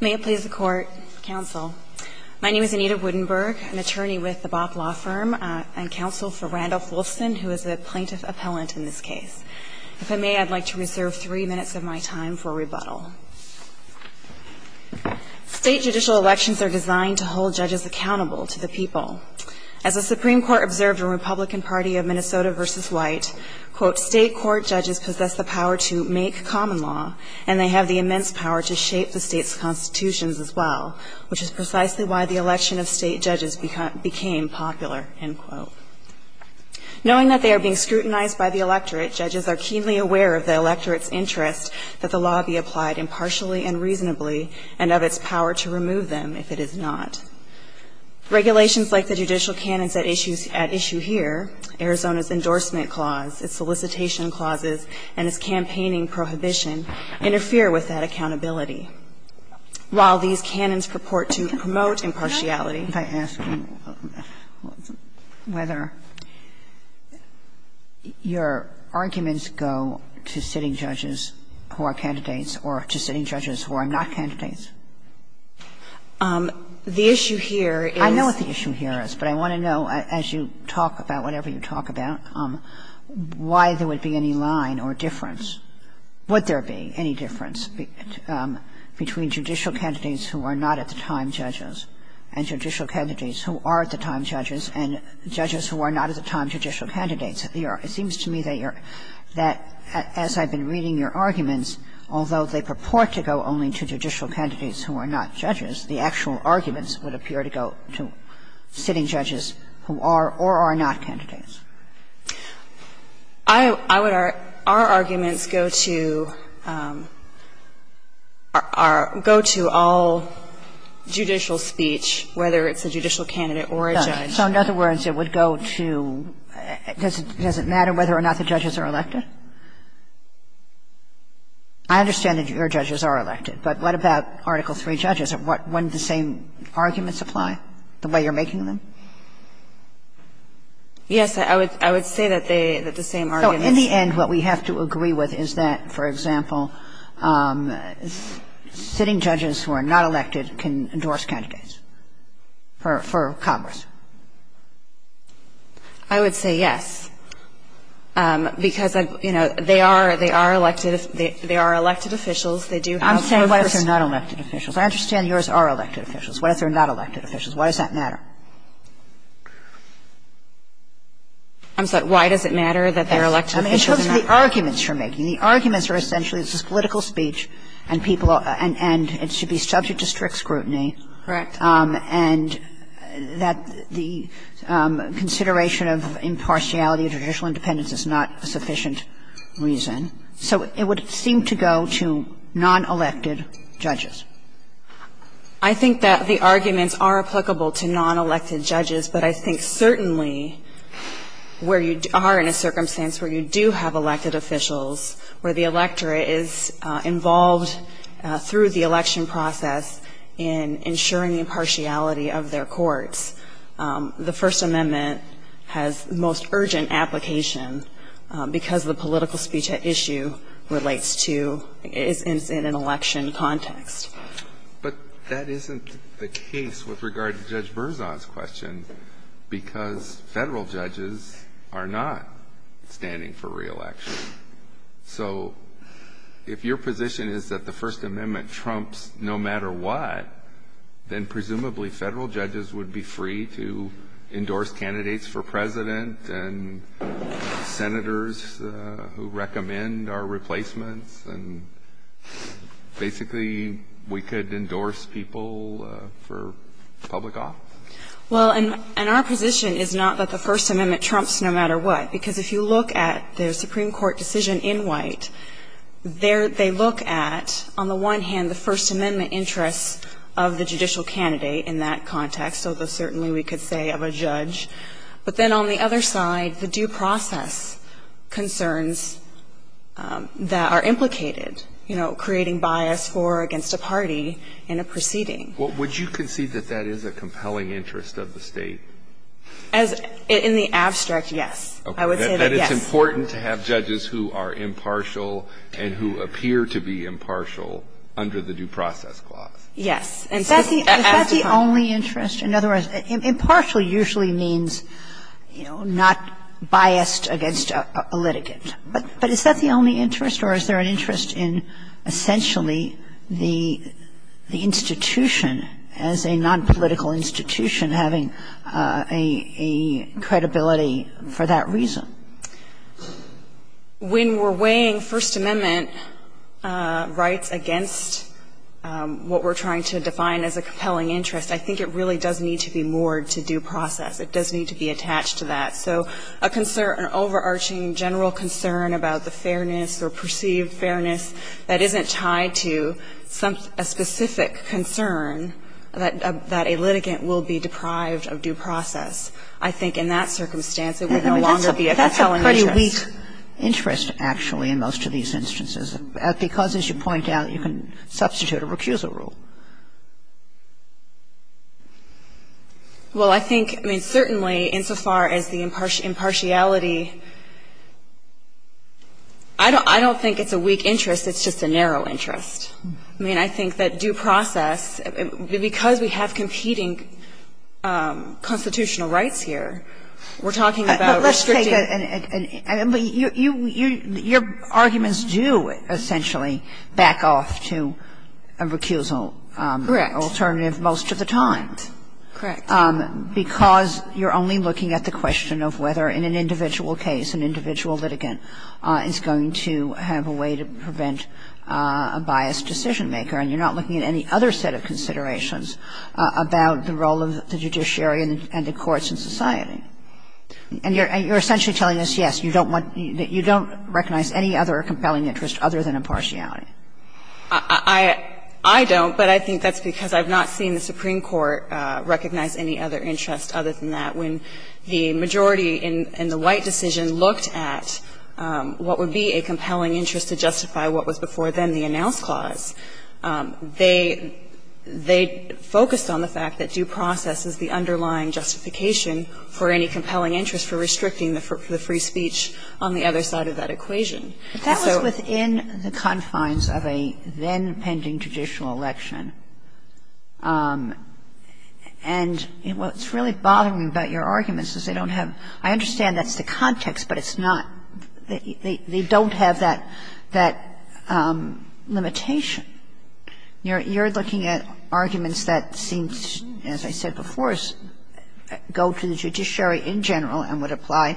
May it please the Court, Counsel. My name is Anita Woodenberg, an attorney with the Bopp Law Firm, and counsel for Randolph Wolfson, who is a plaintiff appellant in this case. If I may, I'd like to reserve three minutes of my time for rebuttal. State judicial elections are designed to hold judges accountable to the people. As the Supreme Court observed in Republican Party of Minnesota v. White, quote, state court judges possess the power to make common law, and they have the immense power to shape the state's constitutions as well, which is precisely why the election of state judges became popular, end quote. Knowing that they are being scrutinized by the electorate, judges are keenly aware of the electorate's interest that the law be applied impartially and reasonably, and of its power to remove them if it is not. Regulations like the judicial canons at issue here, Arizona's endorsement clause, its solicitation clauses, and its campaigning prohibition, interfere with that accountability. While these canons purport to promote impartiality by asking whether your arguments go to sitting judges who are candidates or to sitting judges who are not candidates. The issue here is the issue here is. I know what the issue here is, but I want to know as you talk about whatever you talk about why there would be any line or difference, would there be any difference between judicial candidates who are not at the time judges and judicial candidates who are at the time judges and judges who are not at the time judicial candidates at the era. It seems to me that you're that as I've been reading your arguments, although they purport to go only to judicial candidates who are not judges, the actual arguments would appear to go to sitting judges who are or are not candidates. I would argue our arguments go to our go to all judicial speech, whether it's a judicial candidate or a judge. So in other words, it would go to, does it matter whether or not the judges are elected? I understand that your judges are elected, but what about Article III judges? Wouldn't the same arguments apply the way you're making them? Yes, I would say that they, that the same arguments. So in the end, what we have to agree with is that, for example, sitting judges who are not elected can endorse candidates for Congress? I would say yes, because, you know, they are, they are elected, they are elected officials, they do have some of the rights. I'm saying what if they're not elected officials? I understand yours are elected officials. What if they're not elected officials? Why does that matter? I'm sorry. Why does it matter that they're elected officials? Because of the arguments you're making. The arguments are essentially, this is political speech, and people, and it should be subject to strict scrutiny. Correct. And that the consideration of impartiality of judicial independence is not a sufficient reason. So it would seem to go to non-elected judges. I think that the arguments are applicable to non-elected judges, but I think certainly where you are in a circumstance where you do have elected officials, where the electorate is involved through the election process in ensuring the impartiality of their courts, the First Amendment has the most urgent application because the political speech at issue relates to, is in an election context. But that isn't the case with regard to Judge Berzon's question, because Federal judges are not standing for re-election. So if your position is that the First Amendment trumps no matter what, then presumably Federal judges would be free to endorse candidates for President and Senators who recommend our replacements, and basically we could endorse people for public office? Well, and our position is not that the First Amendment trumps no matter what, because if you look at the Supreme Court decision in White, they look at, on the one hand, the First Amendment interests of the judicial candidate in that context, although certainly we could say of a judge. But then on the other side, the due process concerns that are implicated, you know, creating bias for or against a party in a proceeding. Would you concede that that is a compelling interest of the State? In the abstract, yes. I would say that, yes. That it's important to have judges who are impartial and who appear to be impartial under the due process clause? Yes. And so as the only interest, in other words, impartial usually means, you know, not biased against a litigant. But is that the only interest, or is there an interest in essentially the institution as a nonpolitical institution having a credibility for that reason? When we're weighing First Amendment rights against what we're trying to define as a compelling interest, I think it really does need to be moored to due process. It does need to be attached to that. So a concern, an overarching general concern about the fairness or perceived fairness that isn't tied to a specific concern that a litigant will be deprived of due process, I think in that circumstance it would no longer be a compelling interest. That's a pretty weak interest, actually, in most of these instances, because, as you point out, you can substitute a recusal rule. Well, I think, I mean, certainly insofar as the impartiality, I don't think it's a weak interest. It's just a narrow interest. I mean, I think that due process, because we have competing constitutional rights here, we're talking about restricting. But let's take a – your arguments do essentially back off to a recusal alternative most of the time. Correct. Correct. And you're not looking at any other set of considerations about the role of the judiciary and the courts in society. And you're essentially telling us, yes, you don't want – you don't recognize any other compelling interest other than impartiality. I don't, but I think that's because I've not seen the Supreme Court recognize any other interest other than that. When the majority in the White decision looked at what would be a compelling interest to justify what was before then the Announce Clause, they focused on the fact that due process is the underlying justification for any compelling interest for restricting the free speech on the other side of that equation. And so – But that was within the confines of a then-pending judicial election. And what's really bothering me about your arguments is they don't have – I understand that's the context, but it's not – they don't have that limitation. You're looking at arguments that seem to, as I said before, go to the judiciary in general and would apply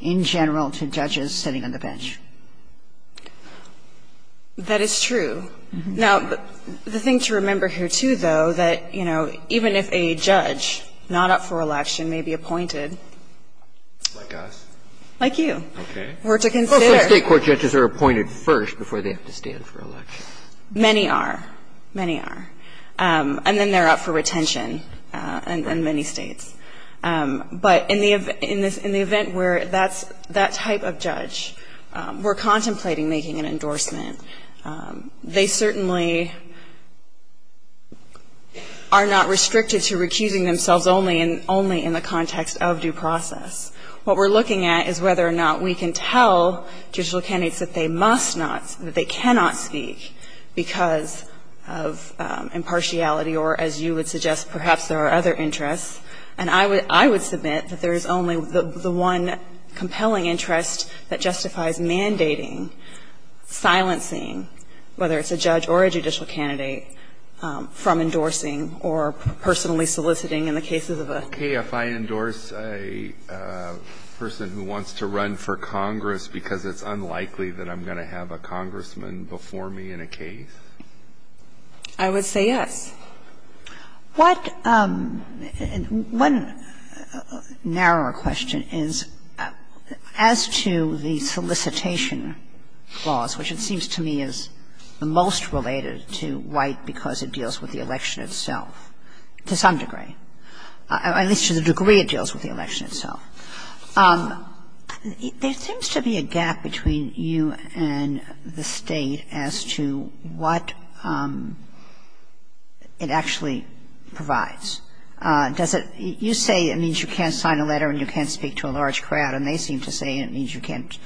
in general to judges sitting on the bench. That is true. Now, the thing to remember here, too, though, that, you know, even if a judge not up for election may be appointed – Like us. Like you. Okay. We're to consider – Most state court judges are appointed first before they have to stand for election. Many are. Many are. And then they're up for retention in many states. But in the event where that type of judge were contemplating making an endorsement, they certainly are not restricted to recusing themselves only in the context of due process. What we're looking at is whether or not we can tell judicial candidates that they must not – that they cannot speak because of impartiality or, as you would suggest, perhaps there are other interests. And I would submit that there is only the one compelling interest that justifies mandating, silencing, whether it's a judge or a judicial candidate, from endorsing or personally soliciting in the cases of a – Okay. If I endorse a person who wants to run for Congress because it's unlikely that I'm going to have a congressman before me in a case? I would say yes. the most related to white because it deals with the election itself to some degree. At least to the degree it deals with the election itself. There seems to be a gap between you and the state as to what it actually provides. Does it – you say it means you can't sign a letter and you can't speak to a large number of people, but you can't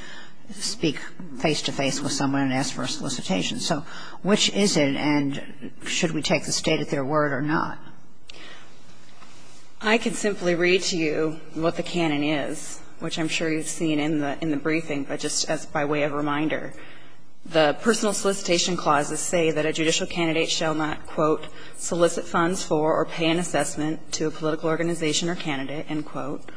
speak face-to-face with someone and ask for a solicitation. So which is it and should we take the state at their word or not? I can simply read to you what the canon is, which I'm sure you've seen in the briefing, but just as by way of reminder. The personal solicitation clauses say that a judicial candidate shall not, quote, solicit funds for or pay an assessment to a political organization or candidate, end quote.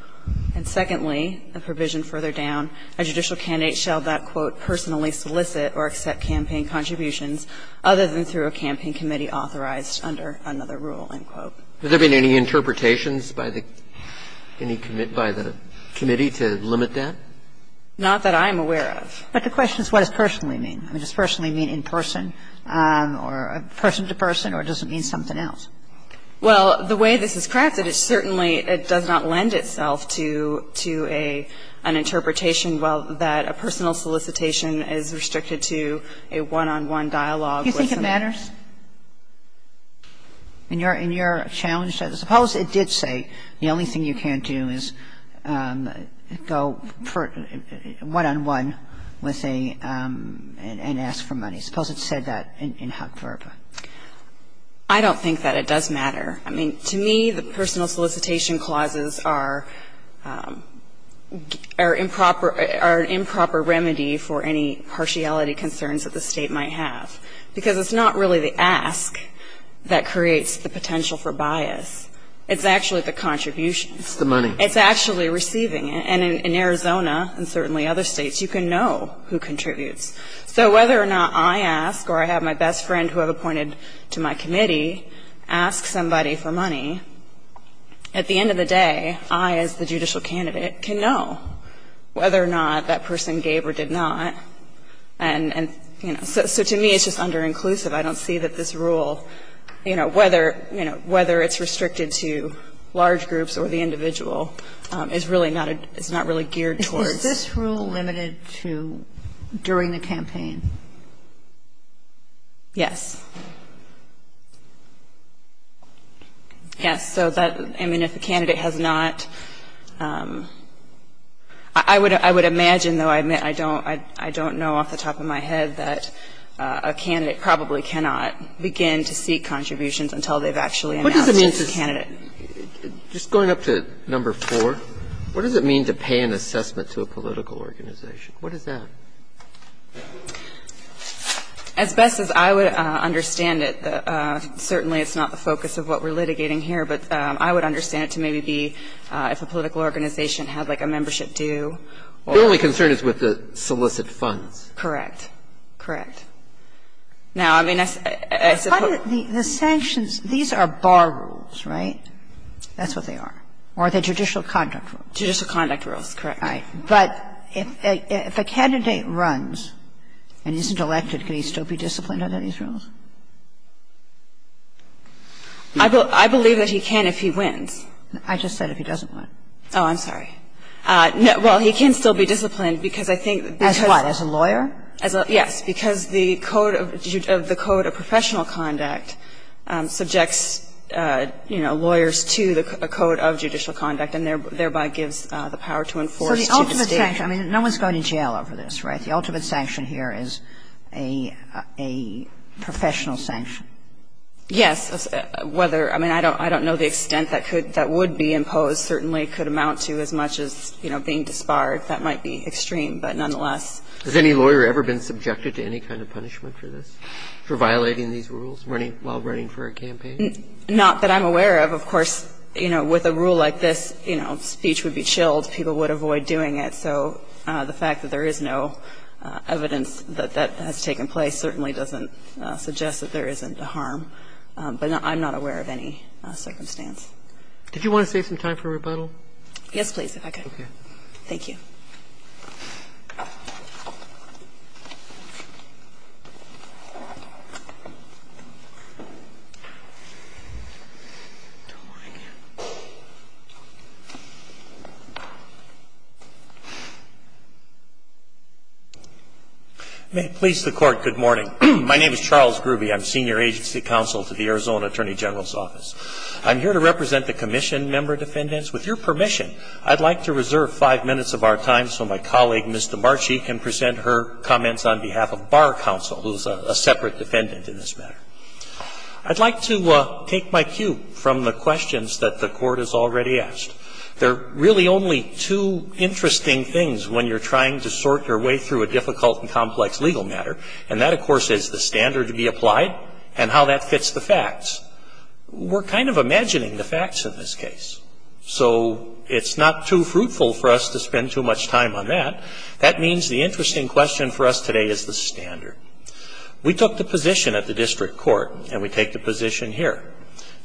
And secondly, a provision further down, a judicial candidate shall not, quote, personally solicit or accept campaign contributions other than through a campaign committee authorized under another rule, end quote. Has there been any interpretations by the – any commit – by the committee to limit that? Not that I'm aware of. But the question is what does personally mean. Does personally mean in person or person to person or does it mean something else? Well, the way this is crafted, it certainly does not lend itself to a – an interpretation that a personal solicitation is restricted to a one-on-one dialogue with a man. Do you think it matters? In your challenge, suppose it did say the only thing you can do is go for one-on-one with a – and ask for money. Suppose it said that in Huck-Verba. I don't think that it does matter. I mean, to me, the personal solicitation clauses are improper – are an improper remedy for any partiality concerns that the state might have. Because it's not really the ask that creates the potential for bias. It's actually the contribution. It's the money. It's actually receiving it. And in Arizona and certainly other states, you can know who contributes. So whether or not I ask or I have my best friend who I've appointed to my committee ask somebody for money, at the end of the day, I as the judicial candidate can know whether or not that person gave or did not. And, you know, so to me, it's just under-inclusive. I don't see that this rule, you know, whether – you know, whether it's restricted to large groups or the individual is really not a – is not really geared towards a one-on-one. And so I don't think that it's a rule that's restricted to during the campaign. Yes. Yes, so that – I mean, if the candidate has not – I would imagine, though, I don't know off the top of my head, that a candidate probably cannot begin to seek contributions until they've actually announced it to the candidate. And just going up to number 4, what does it mean to pay an assessment to a political organization? What is that? As best as I would understand it, certainly it's not the focus of what we're litigating here, but I would understand it to maybe be if a political organization had, like, a membership due. The only concern is with the solicit funds. Correct. Correct. Now, I mean, I suppose the sanctions, these are bar rules, right? That's what they are. Or are they judicial conduct rules? Judicial conduct rules. Correct. All right. But if a candidate runs and isn't elected, can he still be disciplined under these rules? I believe that he can if he wins. I just said if he doesn't win. Oh, I'm sorry. No, well, he can still be disciplined because I think that because of the code of professional conduct, subjects, you know, lawyers to the code of judicial conduct and thereby gives the power to enforce. So the ultimate sanction, I mean, no one's going to jail over this, right? The ultimate sanction here is a professional sanction. Yes. Whether – I mean, I don't know the extent that could – that would be imposed certainly could amount to as much as, you know, being disbarred. That might be extreme, but nonetheless. Has any lawyer ever been subjected to any kind of punishment for this, for violating these rules while running for a campaign? Not that I'm aware of. Of course, you know, with a rule like this, you know, speech would be chilled. People would avoid doing it. So the fact that there is no evidence that that has taken place certainly doesn't suggest that there isn't harm. But I'm not aware of any circumstance. Did you want to save some time for rebuttal? Yes, please, if I could. Okay. Thank you. May it please the Court, good morning. My name is Charles Grube. I'm Senior Agency Counsel to the Arizona Attorney General's Office. I'm here to represent the Commission, Member Defendants. With your permission, I'd like to reserve five minutes of our time so my colleague, Ms. DeMarchi, can present her comments on behalf of Barr Counsel, who's a separate defendant in this matter. I'd like to take my cue from the questions that the Court has already asked. There are really only two interesting things when you're trying to sort your way through a difficult and complex legal matter. And that, of course, is the standard to be applied and how that fits the facts. We're kind of imagining the facts in this case. So it's not too fruitful for us to spend too much time on that. That means the interesting question for us today is the standard. We took the position at the district court, and we take the position here,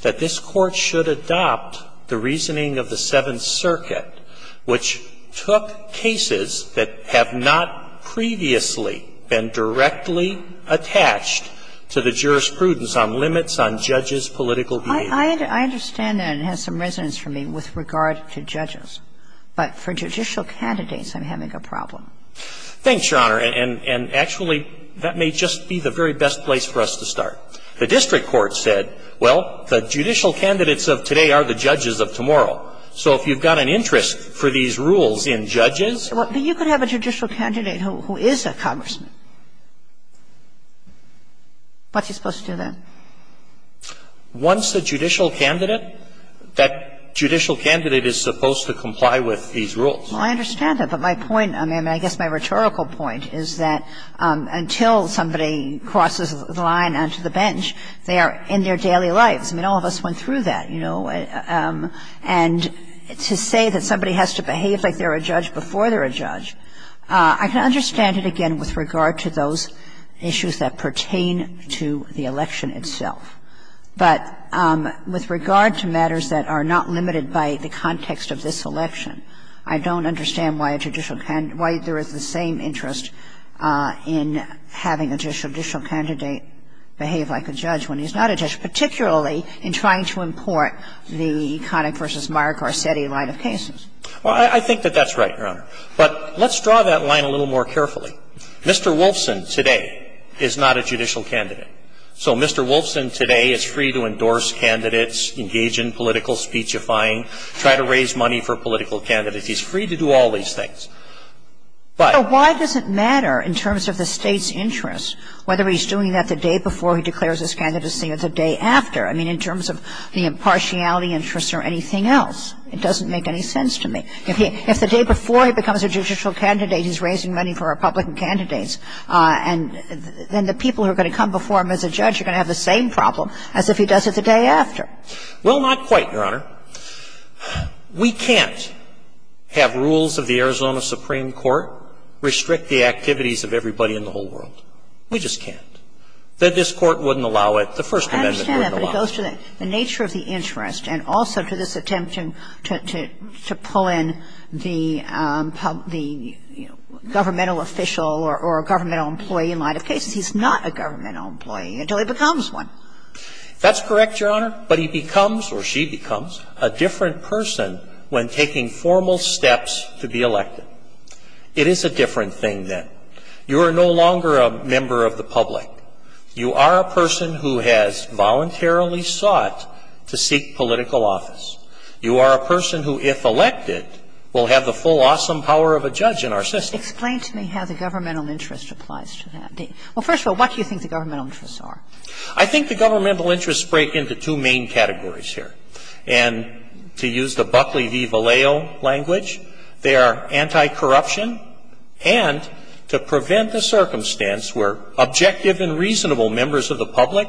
that this Court should adopt the reasoning of the Seventh Circuit, which took cases that have not previously been directly attached to the jurisprudence on limits on judges' political behavior. I understand that it has some resonance for me with regard to judges. But for judicial candidates, I'm having a problem. Thanks, Your Honor. And actually, that may just be the very best place for us to start. The district court said, well, the judicial candidates of today are the judges of tomorrow. So if you've got an interest for these rules in judges But you could have a judicial candidate who is a congressman. What's he supposed to do then? Once a judicial candidate, that judicial candidate is supposed to comply with these rules. Well, I understand that. But my point, I mean, I guess my rhetorical point is that until somebody crosses the line onto the bench, they are in their daily lives. I mean, all of us went through that, you know. And to say that somebody has to behave like they're a judge before they're a judge, I can understand it again with regard to those issues that pertain to the election itself. But with regard to matters that are not limited by the context of this election, I don't understand why there is the same interest in having a judicial candidate behave like a judge when he's not a judge, particularly in trying to import the Connick v. Meyer Garcetti line of cases. Well, I think that that's right, Your Honor. But let's draw that line a little more carefully. Mr. Wolfson today is not a judicial candidate. So Mr. Wolfson today is free to endorse candidates, engage in political speechifying, try to raise money for political candidates. He's free to do all these things. But why does it matter in terms of the State's interest, whether he's doing that the day before he declares his candidacy or the day after? I mean, in terms of the impartiality interests or anything else, it doesn't make any sense to me. If the day before he becomes a judicial candidate, he's raising money for Republican candidates, and then the people who are going to come before him as a judge are going to have the same problem as if he does it the day after. Well, not quite, Your Honor. We can't have rules of the Arizona Supreme Court restrict the activities of everybody in the whole world. We just can't. This Court wouldn't allow it. The First Amendment wouldn't allow it. I understand that, but it goes to the nature of the interest and also to this attempt to pull in the governmental official or governmental employee in light of cases. He's not a governmental employee until he becomes one. That's correct, Your Honor. But he becomes, or she becomes, a different person when taking formal steps to be elected. It is a different thing, then. You are no longer a member of the public. You are a person who has voluntarily sought to seek political office. You are a person who, if elected, will have the full awesome power of a judge in our system. Explain to me how the governmental interest applies to that. Well, first of all, what do you think the governmental interests are? I think the governmental interests break into two main categories here. And to use the Buckley v. Vallejo language, they are anti-corruption and to prevent the circumstance where objective and reasonable members of the public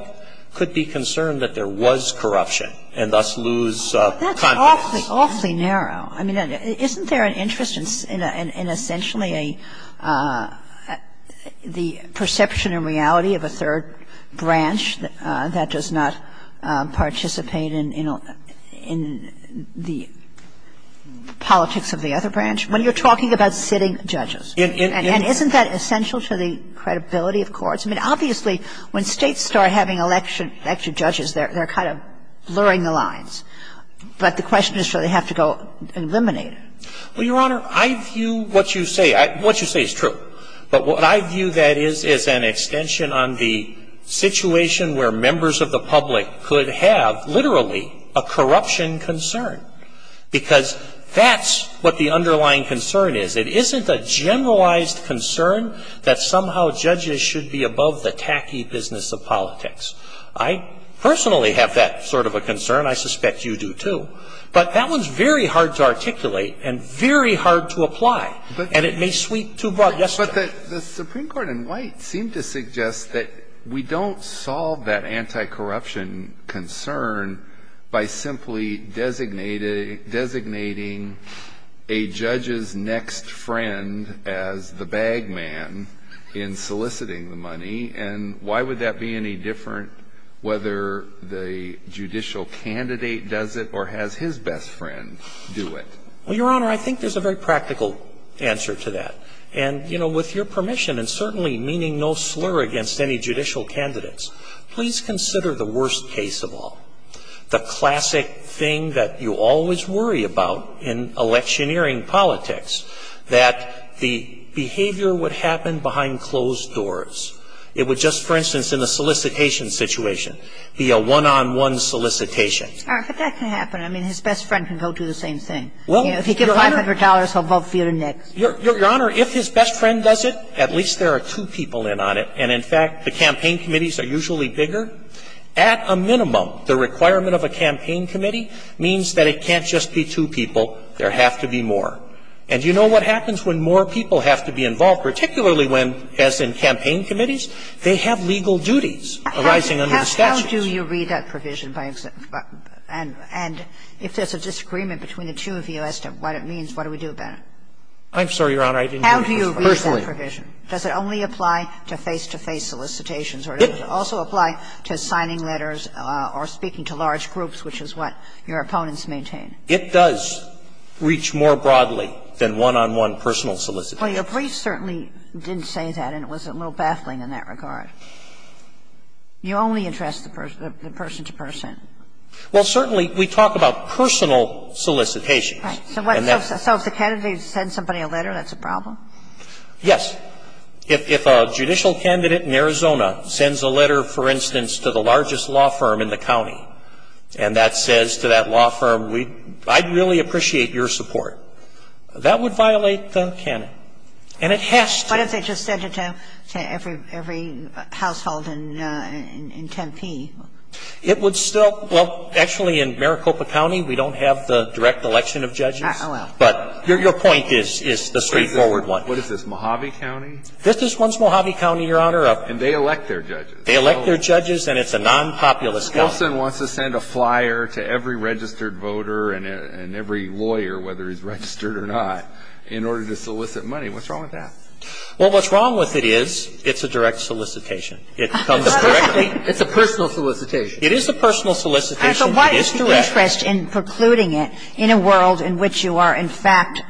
could be concerned that there was corruption and thus lose confidence. That's awfully narrow. I mean, isn't there an interest in essentially the perception and reality of a third branch that does not participate in the politics of the other branch, when you're talking about sitting judges? And isn't that essential to the credibility of courts? I mean, obviously, when States start having elected judges, they're kind of blurring the lines. But the question is, do they have to go eliminate it? Well, Your Honor, I view what you say. What you say is true. But what I view, that is, is an extension on the situation where members of the public could have, literally, a corruption concern, because that's what the underlying concern is. It isn't a generalized concern that somehow judges should be above the tacky business of politics. I personally have that sort of a concern. I suspect you do, too. But that one's very hard to articulate and very hard to apply. And it may sweep too broad. Yes, sir. But the Supreme Court in White seemed to suggest that we don't solve that anti-corruption concern by simply designating a judge's next friend as the bag man in soliciting the money. And why would that be any different whether the judicial candidate does it or has his best friend do it? Well, Your Honor, I think there's a very practical answer to that. And, you know, with your permission, and certainly meaning no slur against any judicial candidates, please consider the worst case of all, the classic thing that you always worry about in electioneering politics, that the behavior would happen behind closed doors. It would just, for instance, in a solicitation situation, be a one-on-one solicitation. All right. But that can happen. I mean, his best friend can go do the same thing. Well, Your Honor If he gives $500, he'll vote for you next. Your Honor, if his best friend does it, at least there are two people in on it. And, in fact, the campaign committees are usually bigger. At a minimum, the requirement of a campaign committee means that it can't just be two people. There have to be more. And you know what happens when more people have to be involved, particularly when, as in campaign committees, they have legal duties arising under the statutes? How do you read that provision by exception? And if there's a disagreement between the two of you as to what it means, what do we do about it? I'm sorry, Your Honor, I didn't hear you. Personally. I didn't hear you. Does it only apply to face-to-face solicitations or does it also apply to signing letters or speaking to large groups, which is what your opponents maintain? It does reach more broadly than one-on-one personal solicitations. Well, your brief certainly didn't say that, and it was a little baffling in that regard. You only address the person to person. Well, certainly, we talk about personal solicitations. Right. So if the candidate sends somebody a letter, that's a problem? Yes. If a judicial candidate in Arizona sends a letter, for instance, to the largest law firm in the county, and that says to that law firm, I'd really appreciate your support, that would violate the canon. And it has to. What if they just sent it to every household in Tempe? It would still – well, actually, in Maricopa County, we don't have the direct election of judges. Oh, well. But your point is the straightforward one. What is this, Mojave County? This is once Mojave County, Your Honor. And they elect their judges. They elect their judges, and it's a nonpopulous county. Wilson wants to send a flyer to every registered voter and every lawyer, whether he's registered or not, in order to solicit money. What's wrong with that? Well, what's wrong with it is it's a direct solicitation. It comes directly – It's a personal solicitation. It is a personal solicitation. And so what is the interest in precluding it in a world in which you are, in fact,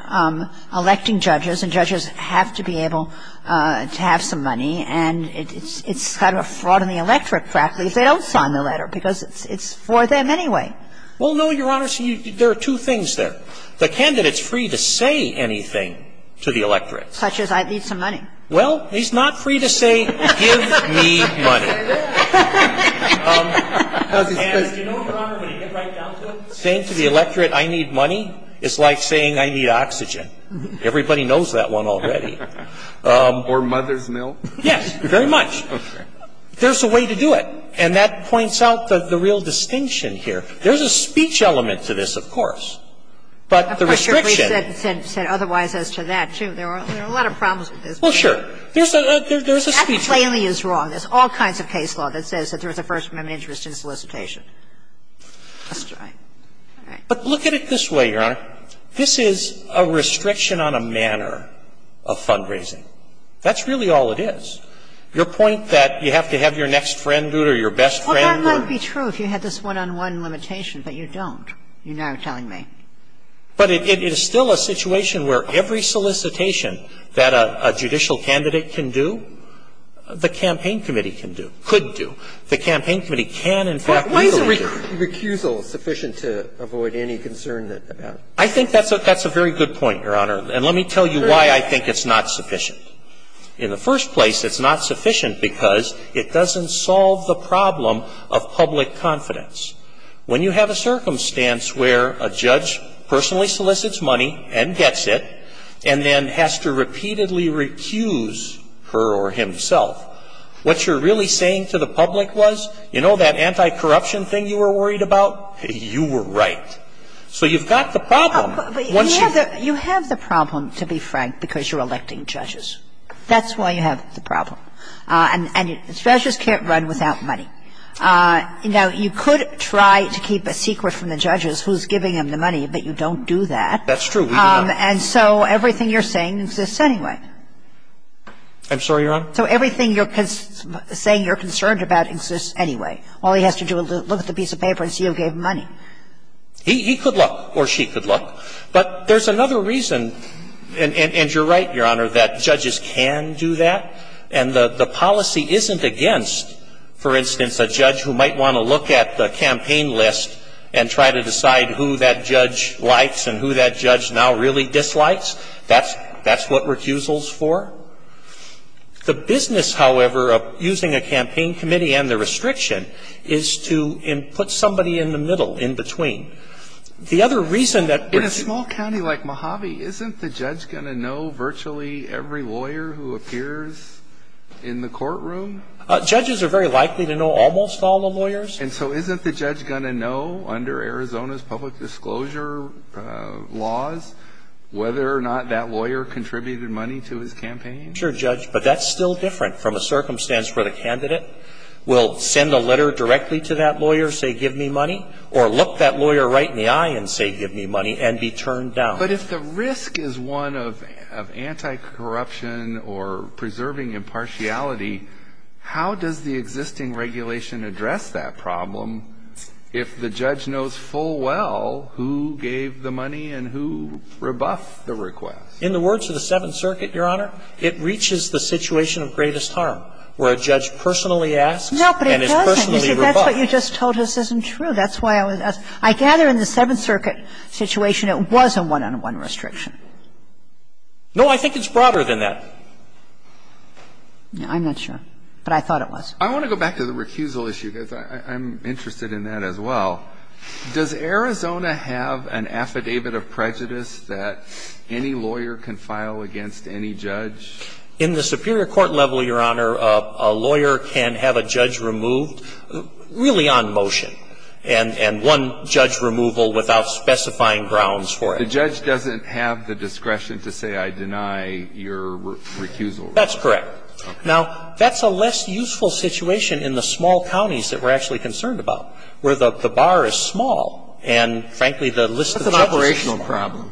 electing judges, and judges have to be able to have some money, and it's kind of a fraud in the electorate practically if they don't sign the letter, because it's for them anyway. Well, no, Your Honor. See, there are two things there. The candidate's free to say anything to the electorate. Such as, I need some money. Well, he's not free to say, give me money. And you know what, Your Honor, when you get right down to it, saying to the electorate, I need money is like saying, I need oxygen. Everybody knows that one already. Or mother's milk. Yes, very much. There's a way to do it. And that points out the real distinction here. There's a speech element to this, of course. But the restriction – Of course, Your Grace said otherwise as to that, too. There are a lot of problems with this. Well, sure. There's a speech element. That plainly is wrong. There's all kinds of case law that says there's a First Amendment interest in solicitation. That's right. All right. But look at it this way, Your Honor. This is a restriction on a manner of fundraising. That's really all it is. Your point that you have to have your next friend do it or your best friend do it. Well, that might be true if you had this one-on-one limitation, but you don't. You're now telling me. But it is still a situation where every solicitation that a judicial candidate can do, the campaign committee can do, could do. The campaign committee can, in fact, legally do it. Why isn't recusal sufficient to avoid any concern about it? I think that's a very good point, Your Honor. And let me tell you why I think it's not sufficient. In the first place, it's not sufficient because it doesn't solve the problem of public confidence. When you have a circumstance where a judge personally solicits money and gets it and then has to repeatedly recuse her or himself, what you're really saying to the public was, you know, that anti-corruption thing you were worried about? You were right. So you've got the problem. Once you've got the problem. You have the problem, to be frank, because you're electing judges. That's why you have the problem. And judges can't run without money. Now, you could try to keep a secret from the judges who's giving them the money, but you don't do that. That's true. And so everything you're saying exists anyway. I'm sorry, Your Honor? So everything you're saying you're concerned about exists anyway. All he has to do is look at the piece of paper and see who gave him money. He could look or she could look. But there's another reason, and you're right, Your Honor, that judges can do that. And the policy isn't against, for instance, a judge who might want to look at the campaign list and try to decide who that judge likes and who that judge now really dislikes. That's what recusal's for. The business, however, of using a campaign committee and the restriction is to put somebody in the middle, in between. The other reason that we're seeing In a small county like Mojave, isn't the judge going to know virtually every lawyer who appears in the courtroom? Judges are very likely to know almost all the lawyers. And so isn't the judge going to know, under Arizona's public disclosure laws, whether or not that lawyer contributed money to his campaign? Sure, Judge. But that's still different from a circumstance where the candidate will send a letter directly to that lawyer, say, give me money, or look that lawyer right in the eye and say, give me money, and be turned down. But if the risk is one of anti-corruption or preserving impartiality, how does the existing address that problem if the judge knows full well who gave the money and who rebuffed the request? In the words of the Seventh Circuit, Your Honor, it reaches the situation of greatest harm, where a judge personally asks and is personally rebuffed. No, but it doesn't. You see, that's what you just told us isn't true. That's why I was asking. I gather in the Seventh Circuit situation it was a one-on-one restriction. No, I think it's broader than that. I'm not sure. But I thought it was. I want to go back to the recusal issue, because I'm interested in that as well. Does Arizona have an affidavit of prejudice that any lawyer can file against any judge? In the superior court level, Your Honor, a lawyer can have a judge removed really on motion, and one judge removal without specifying grounds for it. The judge doesn't have the discretion to say, I deny your recusal. That's correct. Now, that's a less useful situation in the small counties that we're actually concerned about, where the bar is small and, frankly, the list of judges is small. It's an operational problem.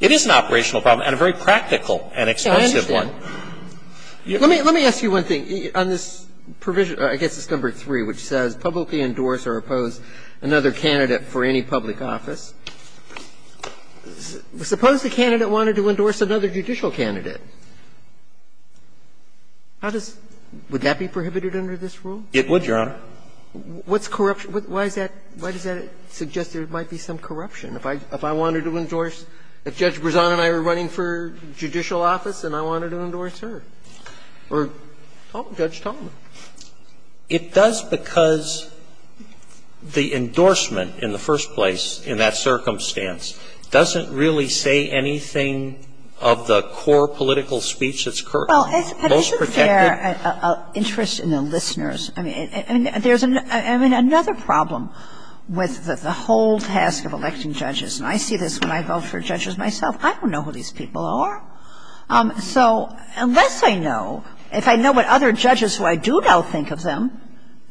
It is an operational problem and a very practical and expensive one. Let me ask you one thing. On this provision, I guess it's number 3, which says publicly endorse or oppose another candidate for any public office, suppose the candidate wanted to endorse another judicial candidate. How does that be prohibited under this rule? It would, Your Honor. What's corruption? Why is that why does that suggest there might be some corruption? If I wanted to endorse, if Judge Brezano and I were running for judicial office and I wanted to endorse her, or Judge Talmadge? It does because the endorsement in the first place in that circumstance doesn't really say anything of the core political speech that's currently most protected. Well, isn't there an interest in the listeners? I mean, there's another problem with the whole task of electing judges. And I see this when I vote for judges myself. I don't know who these people are. So unless I know, if I know what other judges who I do know think of them,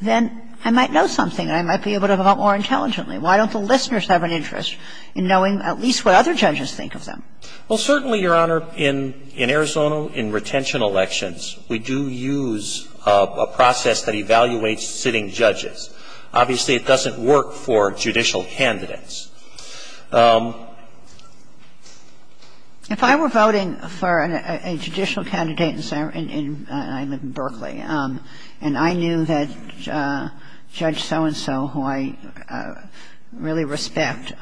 then I might know something and I might be able to vote more intelligently. Why don't the listeners have an interest in knowing at least what other judges think of them? Well, certainly, Your Honor, in Arizona, in retention elections, we do use a process that evaluates sitting judges. Obviously, it doesn't work for judicial candidates. If I were voting for a judicial candidate in Berkeley and I knew that Judge So-and-So, who I really respect,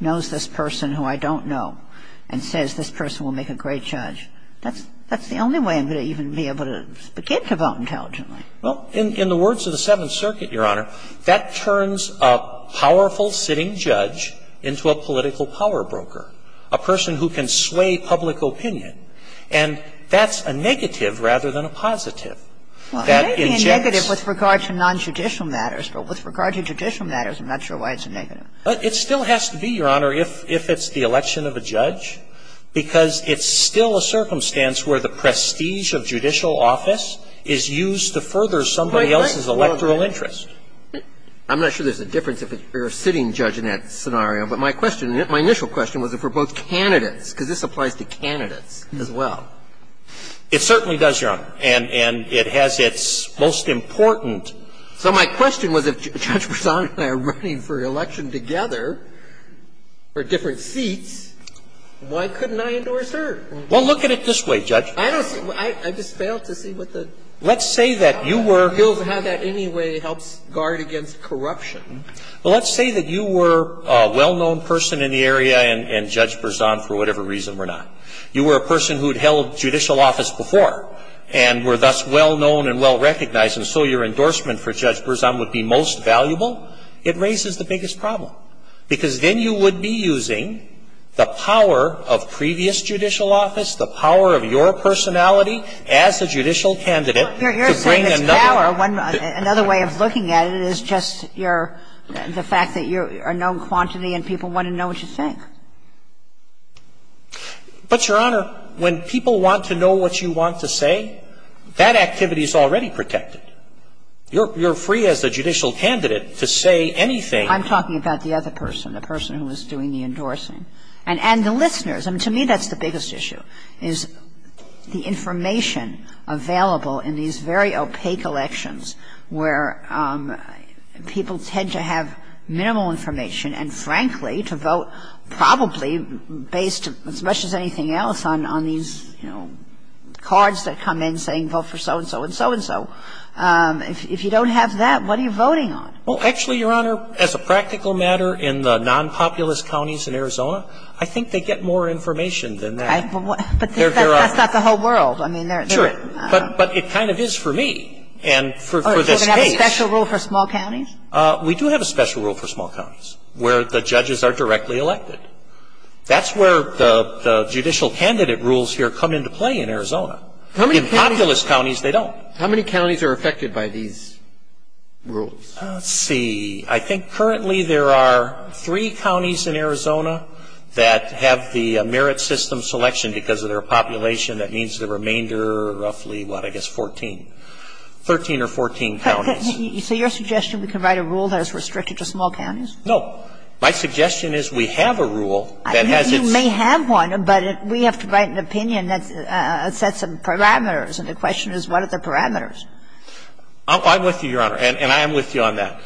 knows this person who I don't know and says this person will make a great judge, that's the only way I'm going to even be able to begin to vote intelligently. Well, in the words of the Seventh Circuit, Your Honor, that turns a powerful sitting judge into a political power broker, a person who can sway public opinion. And that's a negative rather than a positive. That in general is a negative. Well, it may be a negative with regard to nonjudicial matters, but with regard to judicial matters, I'm not sure why it's a negative. It still has to be, Your Honor, if it's the election of a judge, because it's still a circumstance where the prestige of judicial office is used to further somebody else's electoral interest. I'm not sure there's a difference if you're a sitting judge in that scenario, but my question, my initial question was if it were both candidates, because this applies to candidates as well. It certainly does, Your Honor. And it has its most important So my question was if Judge Berzon and I are running for election together for different seats, why couldn't I endorse her? Well, look at it this way, Judge. I just failed to see what the Let's say that you were He'll have that anyway, helps guard against corruption. Well, let's say that you were a well-known person in the area and Judge Berzon, for whatever reason, were not. You were a person who had held judicial office before and were thus well-known and well-recognized, and so your endorsement for Judge Berzon would be most valuable. It raises the biggest problem, because then you would be using the power of previous judicial office, the power of your personality as a judicial candidate to bring another You're saying it's power. Another way of looking at it is just your the fact that you're a known quantity and people want to know what you think. But, Your Honor, when people want to know what you want to say, that activity is already protected. You're free as a judicial candidate to say anything. I'm talking about the other person, the person who is doing the endorsing. And the listeners. I mean, to me, that's the biggest issue, is the information available in these to vote probably based, as much as anything else, on these cards that come in saying vote for so-and-so and so-and-so. If you don't have that, what are you voting on? Well, actually, Your Honor, as a practical matter, in the non-populous counties in Arizona, I think they get more information than that. But that's not the whole world. I mean, they're Sure. But it kind of is for me. And for this case Do they have a special rule for small counties? We do have a special rule for small counties, where the judges are directly elected. That's where the judicial candidate rules here come into play in Arizona. In populous counties, they don't. How many counties are affected by these rules? Let's see. I think currently there are three counties in Arizona that have the merit system selection because of their population. That means the remainder are roughly, what, I guess, 14, 13 or 14 counties. So your suggestion, we can write a rule that is restricted to small counties? No. My suggestion is we have a rule that has its You may have one, but we have to write an opinion that sets some parameters. And the question is, what are the parameters? I'm with you, Your Honor. And I am with you on that.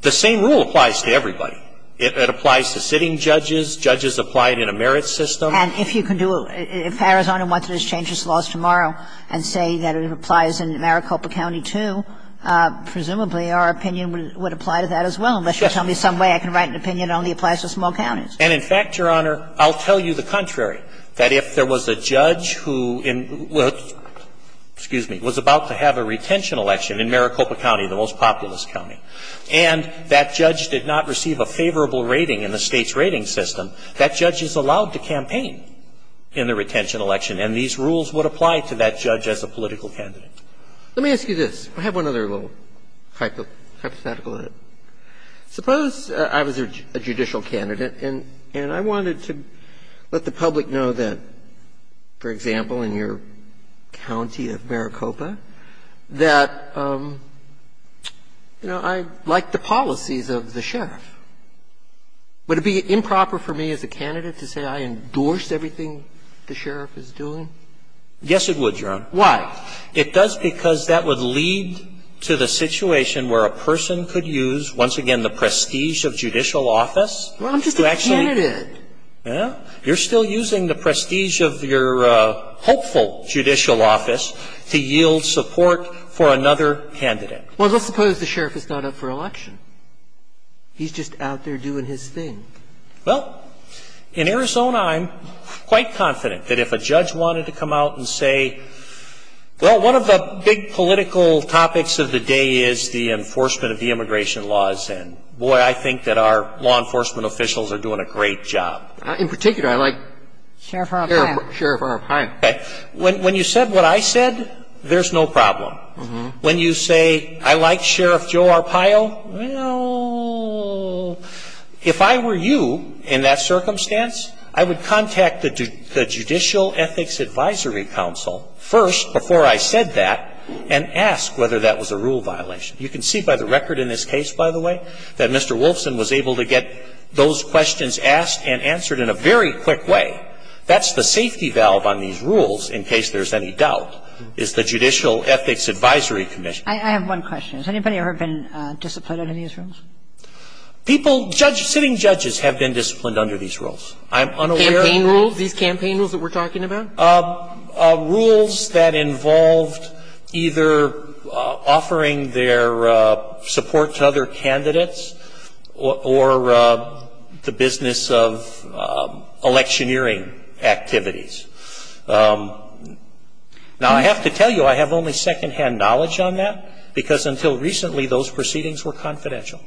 The same rule applies to everybody. It applies to sitting judges. Judges apply it in a merit system. And if you can do it, if Arizona wanted to change its laws tomorrow and say that it applies in Maricopa County, too, presumably our opinion would apply to that as well, unless you tell me some way I can write an opinion that only applies to small counties. And, in fact, Your Honor, I'll tell you the contrary, that if there was a judge who was about to have a retention election in Maricopa County, the most populous county, and that judge did not receive a favorable rating in the state's rating system, that judge is allowed to campaign in the retention election. And these rules would apply to that judge as a political candidate. Let me ask you this. I have one other little hypothetical in it. Suppose I was a judicial candidate and I wanted to let the public know that, for example, in your county of Maricopa, that, you know, I like the policies of the sheriff. Would it be improper for me as a candidate to say I endorsed everything the sheriff is doing? Yes, it would, Your Honor. Why? It does because that would lead to the situation where a person could use, once again, the prestige of judicial office to actually be a candidate. Well, I'm just a candidate. Well, you're still using the prestige of your hopeful judicial office to yield support for another candidate. Well, let's suppose the sheriff is not up for election. He's just out there doing his thing. Well, in Arizona, I'm quite confident that if a judge wanted to come out and say, well, one of the big political topics of the day is the enforcement of the immigration laws, and boy, I think that our law enforcement officials are doing a great job. In particular, I like Sheriff Arpaio. Sheriff Arpaio. Okay. When you said what I said, there's no problem. When you say, I like Sheriff Joe Arpaio, well, if I were you in that circumstance, I would contact the Judicial Ethics Advisory Council first, before I said that, and ask whether that was a rule violation. You can see by the record in this case, by the way, that Mr. Wolfson was able to get those questions asked and answered in a very quick way. That's the safety valve on these rules, in case there's any doubt, is the Judicial Ethics Advisory Commission. I have one question. Has anybody ever been disciplined under these rules? People, sitting judges have been disciplined under these rules. I'm unaware of- These campaign rules that we're talking about? Rules that involved either offering their support to other candidates, or the business of electioneering activities. Now, I have to tell you, I have only second-hand knowledge on that, because until recently, those proceedings were confidential.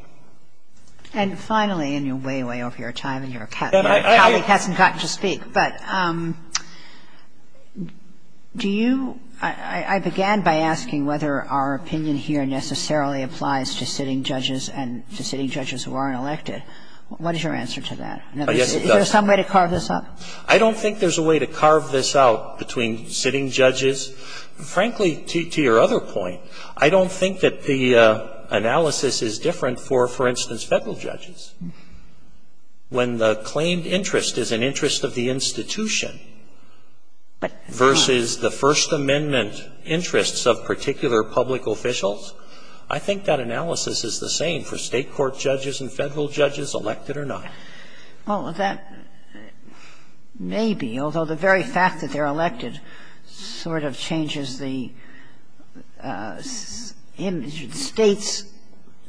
And finally, and you're way, way over your time, and your colleague hasn't gotten to speak, but do you – I began by asking whether our opinion here necessarily applies to sitting judges and to sitting judges who aren't elected. What is your answer to that? Is there some way to carve this up? I don't think there's a way to carve this out between sitting judges. Frankly, to your other point, I don't think that the analysis is different for, for instance, federal judges. When the claimed interest is an interest of the institution versus the First Amendment interests of particular public officials, I think that analysis is the same for state court judges and federal judges, elected or not. Well, that may be, although the very fact that they're elected sort of changes the image of the states,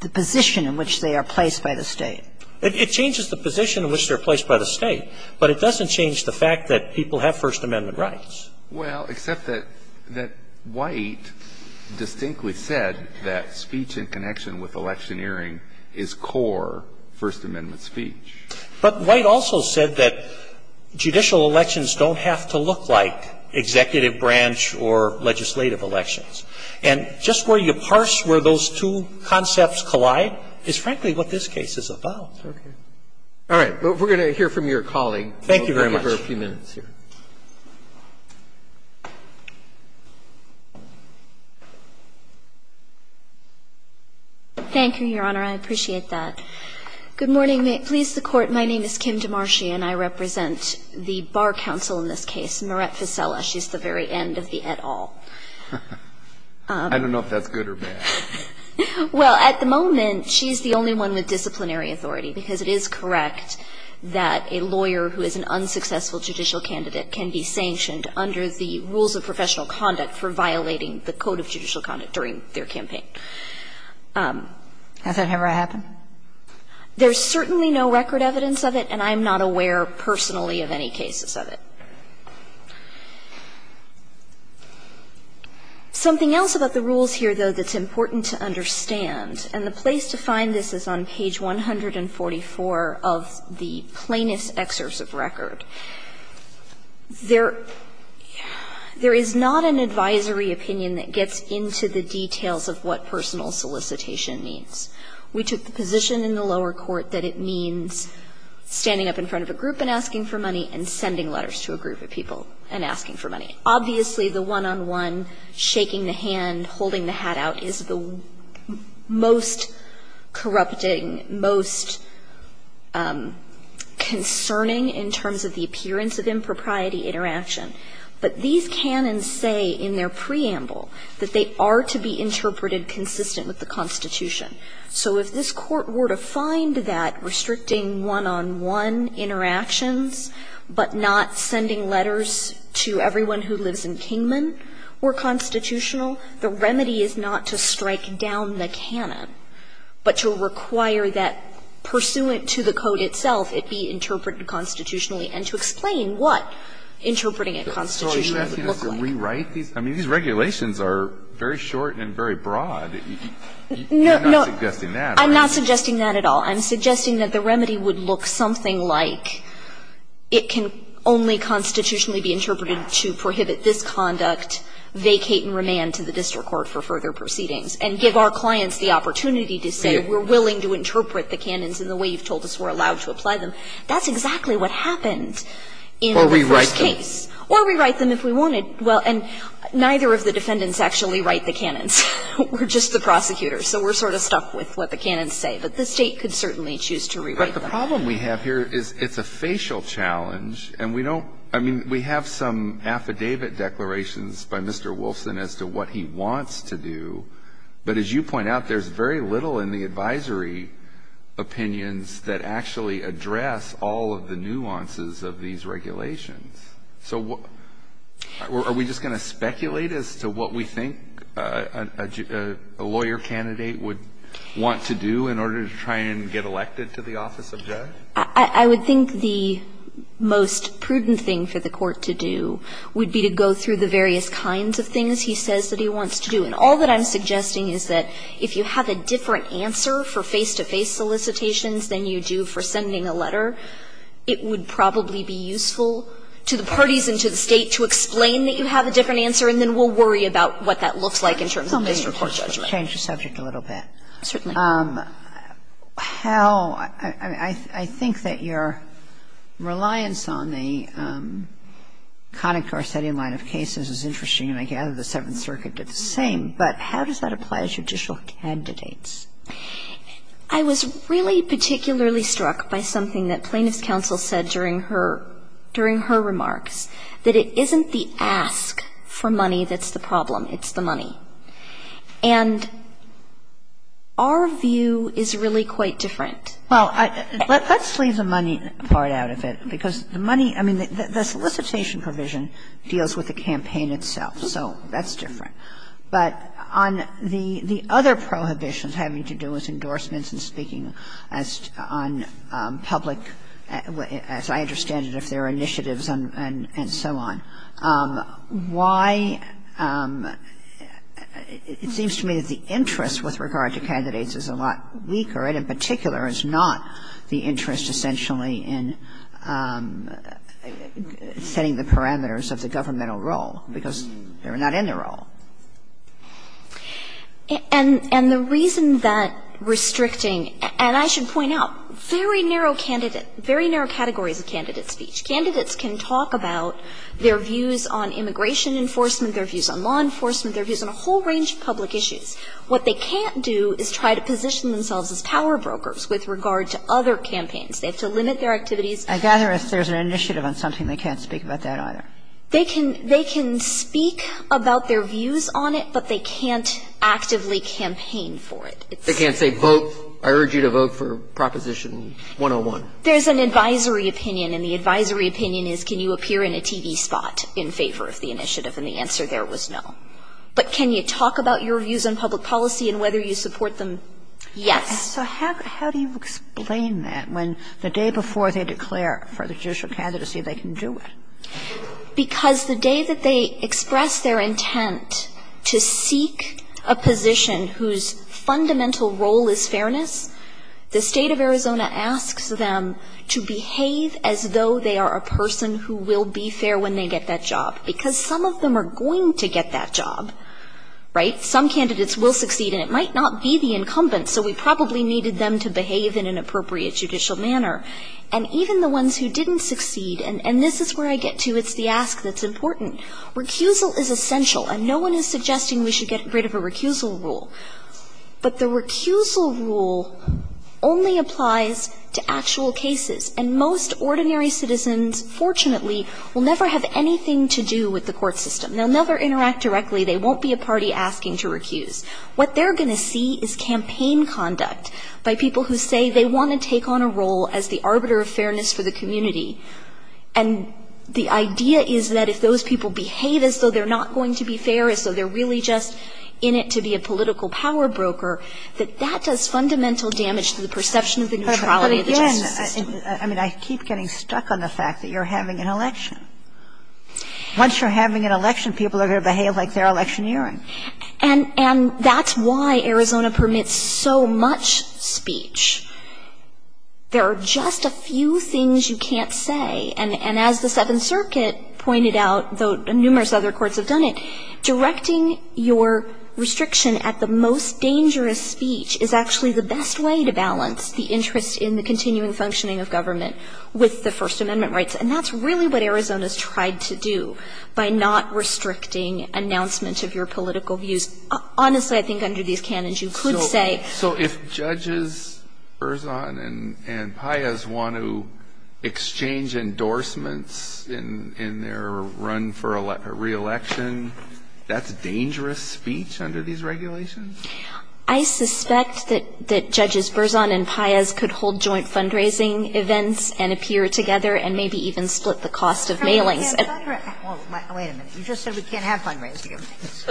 the position in which they are placed by the state. It changes the position in which they're placed by the state, but it doesn't change the fact that people have First Amendment rights. Well, except that White distinctly said that speech in connection with electioneering is core First Amendment speech. But White also said that judicial elections don't have to look like executive branch or legislative elections. And just where you parse where those two concepts collide is, frankly, what this case is about. Okay. All right, well, we're going to hear from your colleague. Thank you very much. We'll give her a few minutes here. Thank you, Your Honor. I appreciate that. Good morning, please, the court. My name is Kim DeMarshi, and I represent the bar council in this case, Marette Fisela. She's the very end of the et al. I don't know if that's good or bad. Well, at the moment, she's the only one with disciplinary authority, because it is correct that a lawyer who is an unsuccessful judicial candidate can be sanctioned under the rules of professional conduct for violating the code of judicial conduct during their campaign. Has that ever happened? There's certainly no record evidence of it, and I'm not aware personally of any cases of it. Something else about the rules here, though, that's important to understand, and the place to find this is on page 144 of the plaintiff's excerpt of record. There is not an advisory opinion that gets into the details of what personal solicitation means. We took the position in the lower court that it means standing up in front of a group and asking for money and sending letters to a group of people and asking for money. Obviously, the one-on-one, shaking the hand, holding the hat out is the most corrupting, most concerning in terms of the appearance of impropriety interaction. But these canons say in their preamble that they are to be interpreted consistent with the Constitution. So if this Court were to find that restricting one-on-one interactions, but not sending letters to everyone who lives in Kingman were constitutional, the remedy is not to strike down the canon, but to require that pursuant to the code itself it be interpreted constitutionally and to explain what interpreting it constitutionally would look like. Alito, I mean, these regulations are very short and very broad. You're not suggesting that, are you? No, I'm not suggesting that at all. I'm suggesting that the remedy would look something like it can only constitutionally be interpreted to prohibit this conduct, vacate and remand to the district court for further proceedings, and give our clients the opportunity to say we're willing to interpret the canons in the way you've told us we're allowed to apply them. That's exactly what happened in the first case. Or rewrite them. We could rewrite them if we wanted. Well, and neither of the defendants actually write the canons. We're just the prosecutors. So we're sort of stuck with what the canons say. But the State could certainly choose to rewrite them. But the problem we have here is it's a facial challenge, and we don't – I mean, we have some affidavit declarations by Mr. Wolfson as to what he wants to do. But as you point out, there's very little in the advisory opinions that actually address all of the nuances of these regulations. So are we just going to speculate as to what we think a lawyer candidate would want to do in order to try and get elected to the office of judge? I would think the most prudent thing for the Court to do would be to go through the various kinds of things he says that he wants to do. And all that I'm suggesting is that if you have a different answer for face-to-face solicitations than you do for sending a letter, it would probably be useful to the parties and to the State to explain that you have a different answer, and then we'll worry about what that looks like in terms of this report judgment. Let me just change the subject a little bit. Certainly. How – I mean, I think that your reliance on the Connick-Garcetti line of cases is interesting, and I gather the Seventh Circuit did the same. But how does that apply to judicial candidates? I was really particularly struck by something that plaintiff's counsel said during her remarks, that it isn't the ask for money that's the problem, it's the money. And our view is really quite different. Well, let's leave the money part out of it, because the money – I mean, the solicitation provision deals with the campaign itself, so that's different. But on the other prohibitions having to do with endorsements and speaking on public – as I understand it, if there are initiatives and so on, why – it seems to me that the interest with regard to candidates is a lot weaker, and in particular, it's not the interest essentially in setting the parameters of the governmental role, because they're not in the role. And the reason that restricting – and I should point out, very narrow candidate – very narrow categories of candidate speech. Candidates can talk about their views on immigration enforcement, their views on law enforcement, their views on a whole range of public issues. What they can't do is try to position themselves as power brokers with regard to other campaigns. They have to limit their activities. I gather if there's an initiative on something, they can't speak about that either. They can speak about their views on it, but they can't actively campaign for it. They can't say, vote – I urge you to vote for Proposition 101. There's an advisory opinion, and the advisory opinion is, can you appear in a TV spot in favor of the initiative? And the answer there was no. But can you talk about your views on public policy and whether you support them? Yes. And so how do you explain that when the day before they declare for the judicial candidacy, they can do it? Because the day that they express their intent to seek a position whose fundamental role is fairness, the state of Arizona asks them to behave as though they are a person who will be fair when they get that job. Because some of them are going to get that job, right? Some candidates will succeed, and it might not be the incumbent, so we probably needed them to behave in an appropriate judicial manner. And even the ones who didn't succeed – and this is where I get to, it's the ask that's important. Recusal is essential, and no one is suggesting we should get rid of a recusal rule. But the recusal rule only applies to actual cases. And most ordinary citizens, fortunately, will never have anything to do with the court system. They'll never interact directly. They won't be a party asking to recuse. What they're going to see is campaign conduct by people who say they want to take on a role as the arbiter of fairness for the community. And the idea is that if those people behave as though they're not going to be fair, as though they're really just in it to be a political power broker, that that does fundamental damage to the perception of the neutrality of the justice system. I mean, I keep getting stuck on the fact that you're having an election. Once you're having an election, people are going to behave like they're electioneering. And that's why Arizona permits so much speech. There are just a few things you can't say. And as the Seventh Circuit pointed out, though numerous other courts have done it, directing your restriction at the most dangerous speech is actually the best way to balance the interest in the continuing functioning of government with the First Amendment rights. And that's really what Arizona's tried to do by not restricting announcement of your political views. Honestly, I think under these canons, you could say. So if Judges Berzon and Paez want to exchange endorsements in their run for a re-election, that's dangerous speech under these regulations? I suspect that Judges Berzon and Paez could hold joint fundraising events and appear together and maybe even split the cost of mailings. Wait a minute. You just said we can't have fundraising events.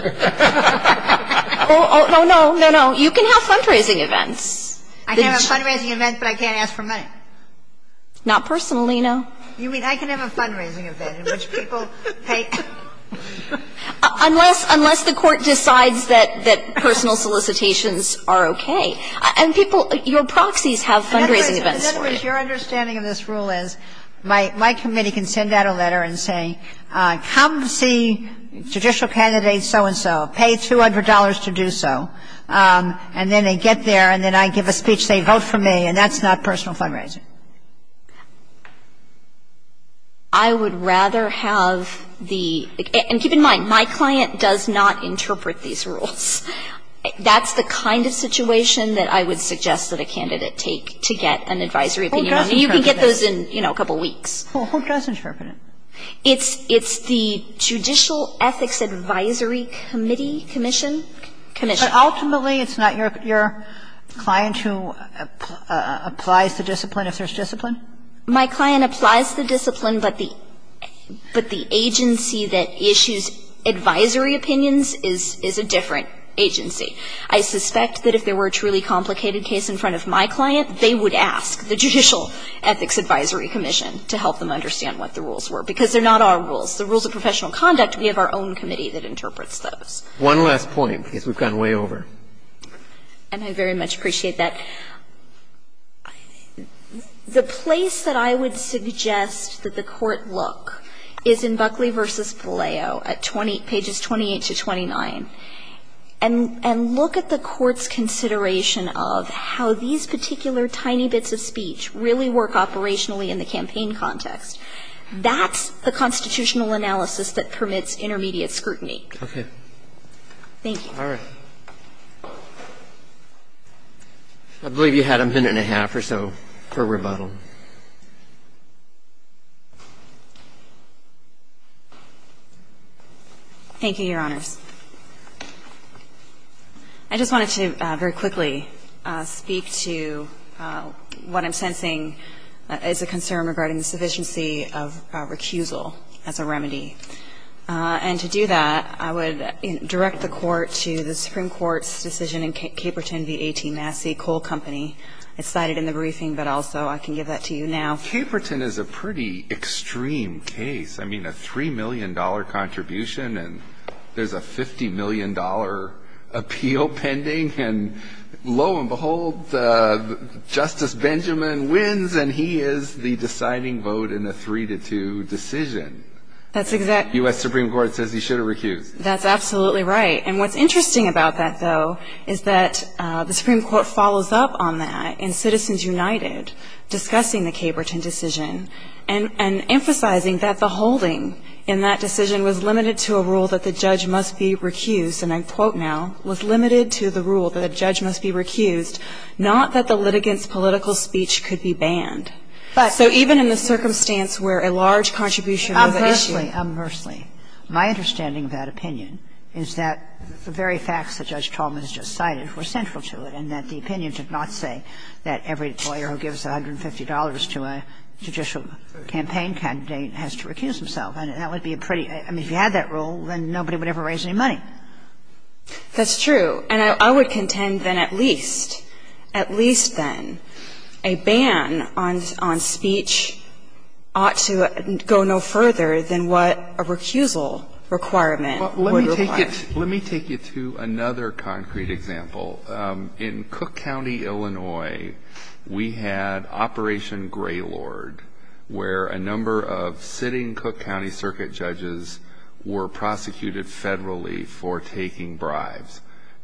Oh, no, no, no. You can have fundraising events. I can have a fundraising event, but I can't ask for money. Not personally, no. You mean I can have a fundraising event in which people pay? Unless the Court decides that personal solicitations are okay. And people – your proxies have fundraising events. I would rather have the – and keep in mind, my client does not interpret these rules. That's the kind of situation that I would suggest that a candidate take to get an advisory opinion on. You can get those in, you know, a couple of weeks. I don't know. I don't know. I don't know. It's the Judicial Ethics Advisory Committee Commission. But ultimately, it's not your client who applies the discipline if there's discipline? My client applies the discipline, but the agency that issues advisory opinions is a different agency. I suspect that if there were a truly complicated case in front of my client, they would ask the Judicial Ethics Advisory Commission to help them understand what the discipline is. But they're not our rules. The rules of professional conduct, we have our own committee that interprets those. One last point, because we've gone way over. And I very much appreciate that. The place that I would suggest that the Court look is in Buckley v. Paleo at 20 – pages 28 to 29. And look at the Court's consideration of how these particular tiny bits of speech really work operationally in the campaign context. That's the constitutional analysis that permits intermediate scrutiny. Okay. Thank you. All right. I believe you had a minute and a half or so for rebuttal. Thank you, Your Honors. I just wanted to very quickly speak to what I'm sensing is a concern regarding the sufficiency of recusal as a remedy. And to do that, I would direct the Court to the Supreme Court's decision in Caperton v. A.T. Massey, Cole Company. It's cited in the briefing, but also I can give that to you now. Caperton is a pretty extreme case. I mean, a $3 million contribution, and there's a $50 million appeal pending. And lo and behold, Justice Benjamin wins, and he is the deciding vote in the 3-2 decision. U.S. Supreme Court says he should have recused. That's absolutely right. And what's interesting about that, though, is that the Supreme Court follows up on that in Citizens United discussing the Caperton decision and emphasizing that the holding in that decision was limited to a rule that the judge must be recused, not that the litigant's political speech could be banned. So even in the circumstance where a large contribution was issued — Umhurstley. Umhurstley. My understanding of that opinion is that the very facts that Judge Tolman has just cited were central to it, and that the opinion did not say that every lawyer who gives $150 to a judicial campaign candidate has to recuse himself. And that would be a pretty — I mean, if you had that rule, then nobody would ever raise any money. That's true. And I would contend then at least, at least then, a ban on speech ought to go no further than what a recusal requirement would require. Let me take you to another concrete example. In Cook County, Illinois, we had Operation Greylord, where a number of sitting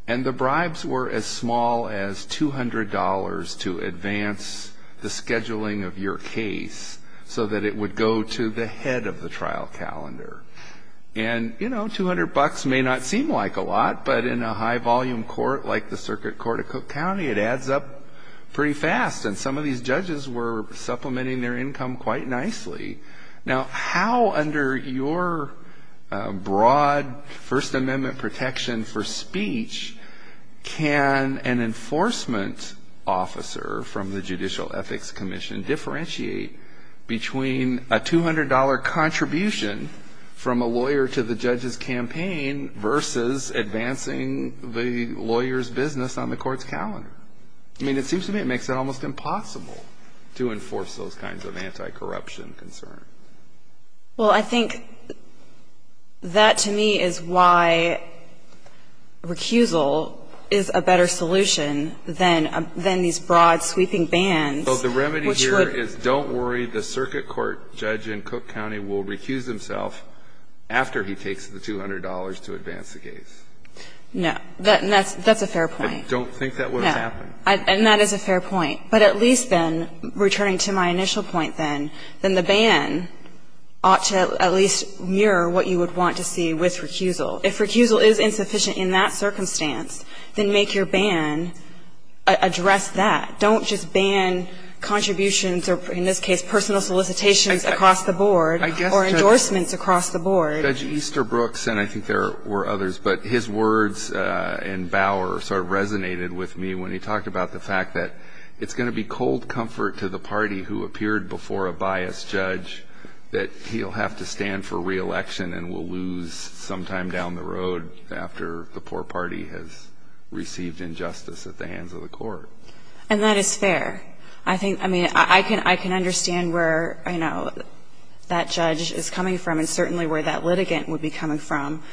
And the bribes were as small as $200 to advance the scheduling of your case so that it would go to the head of the trial calendar. And, you know, 200 bucks may not seem like a lot, but in a high-volume court like the Circuit Court of Cook County, it adds up pretty fast. And some of these judges were supplementing their income quite nicely. Now, how under your broad First Amendment protection for speech can an enforcement officer from the Judicial Ethics Commission differentiate between a $200 contribution from a lawyer to the judge's campaign versus advancing the lawyer's business on the court's calendar? I mean, it seems to me it makes it almost impossible to enforce those kinds of Well, I think that, to me, is why recusal is a better solution than these broad sweeping bans, which would So the remedy here is don't worry. The circuit court judge in Cook County will recuse himself after he takes the $200 to advance the case. No. That's a fair point. I don't think that would have happened. No. And that is a fair point. But at least then, returning to my initial point then, then the ban ought to at least mirror what you would want to see with recusal. If recusal is insufficient in that circumstance, then make your ban address that. Don't just ban contributions or, in this case, personal solicitations across the board or endorsements across the board. Judge Easterbrooks and I think there were others, but his words in Bauer sort of resonated with me when he talked about the fact that it's going to be cold comfort to the party who appeared before a biased judge that he'll have to stand for reelection and will lose sometime down the road after the poor party has received injustice at the hands of the court. And that is fair. I think, I mean, I can understand where, you know, that judge is coming from and certainly where that litigant would be coming from.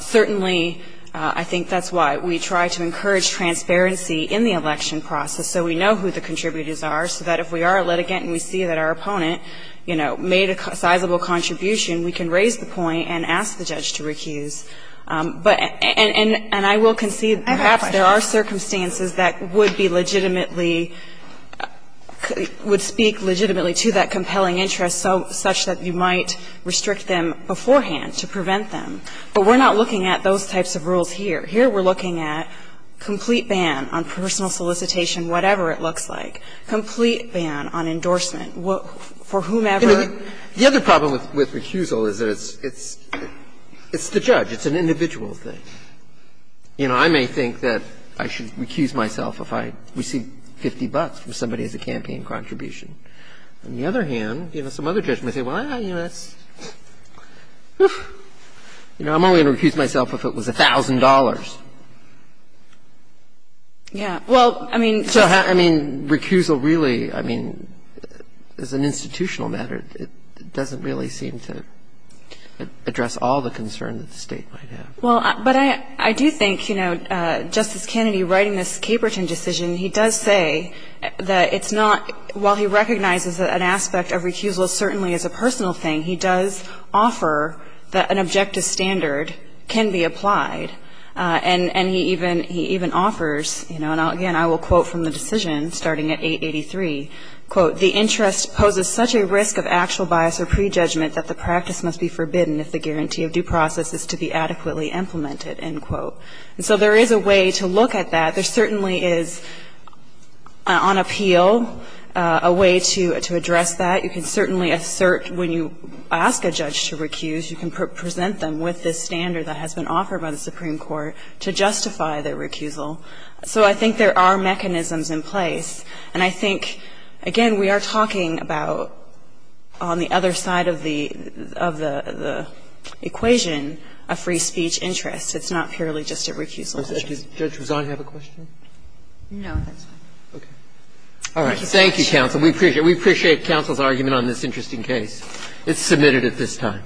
Certainly I think that's why we try to encourage transparency in the election process so we know who the contributors are, so that if we are a litigant and we see that our opponent, you know, made a sizable contribution, we can raise the point and ask the judge to recuse. And I will concede that there are circumstances that would be legitimately – would speak legitimately to that compelling interest such that you might restrict them beforehand to prevent them. But we're not looking at those types of rules here. Here we're looking at complete ban on personal solicitation, whatever it looks like, complete ban on endorsement for whomever. The other problem with recusal is that it's the judge. It's an individual thing. You know, I may think that I should recuse myself if I receive 50 bucks from somebody as a campaign contribution. On the other hand, you know, some other judges may say, well, you know, that's – you know, I'm only going to recuse myself if it was $1,000. Yeah. Well, I mean, just – I mean, recusal really, I mean, is an institutional matter. It doesn't really seem to address all the concerns that the State might have. Well, but I do think, you know, Justice Kennedy writing this Caperton decision, he does say that it's not – while he recognizes that an aspect of recusal certainly is a personal thing, he does offer that an objective standard can be applied. And he even – he even offers, you know, and again, I will quote from the decision starting at 883, quote, the interest poses such a risk of actual bias or prejudgment that the practice must be forbidden if the guarantee of due process is to be adequately implemented, end quote. And so there is a way to look at that. There certainly is, on appeal, a way to address that. You can certainly assert when you ask a judge to recuse, you can present them with this standard that has been offered by the Supreme Court to justify their recusal. So I think there are mechanisms in place. And I think, again, we are talking about, on the other side of the equation, a free speech interest. It's not purely just a recusal issue. Breyer. Thank you, counsel. Does Judge Rousan have a question? No, that's all. Okay. All right. Thank you, counsel. We appreciate – we appreciate counsel's argument on this interesting case. It's submitted at this time.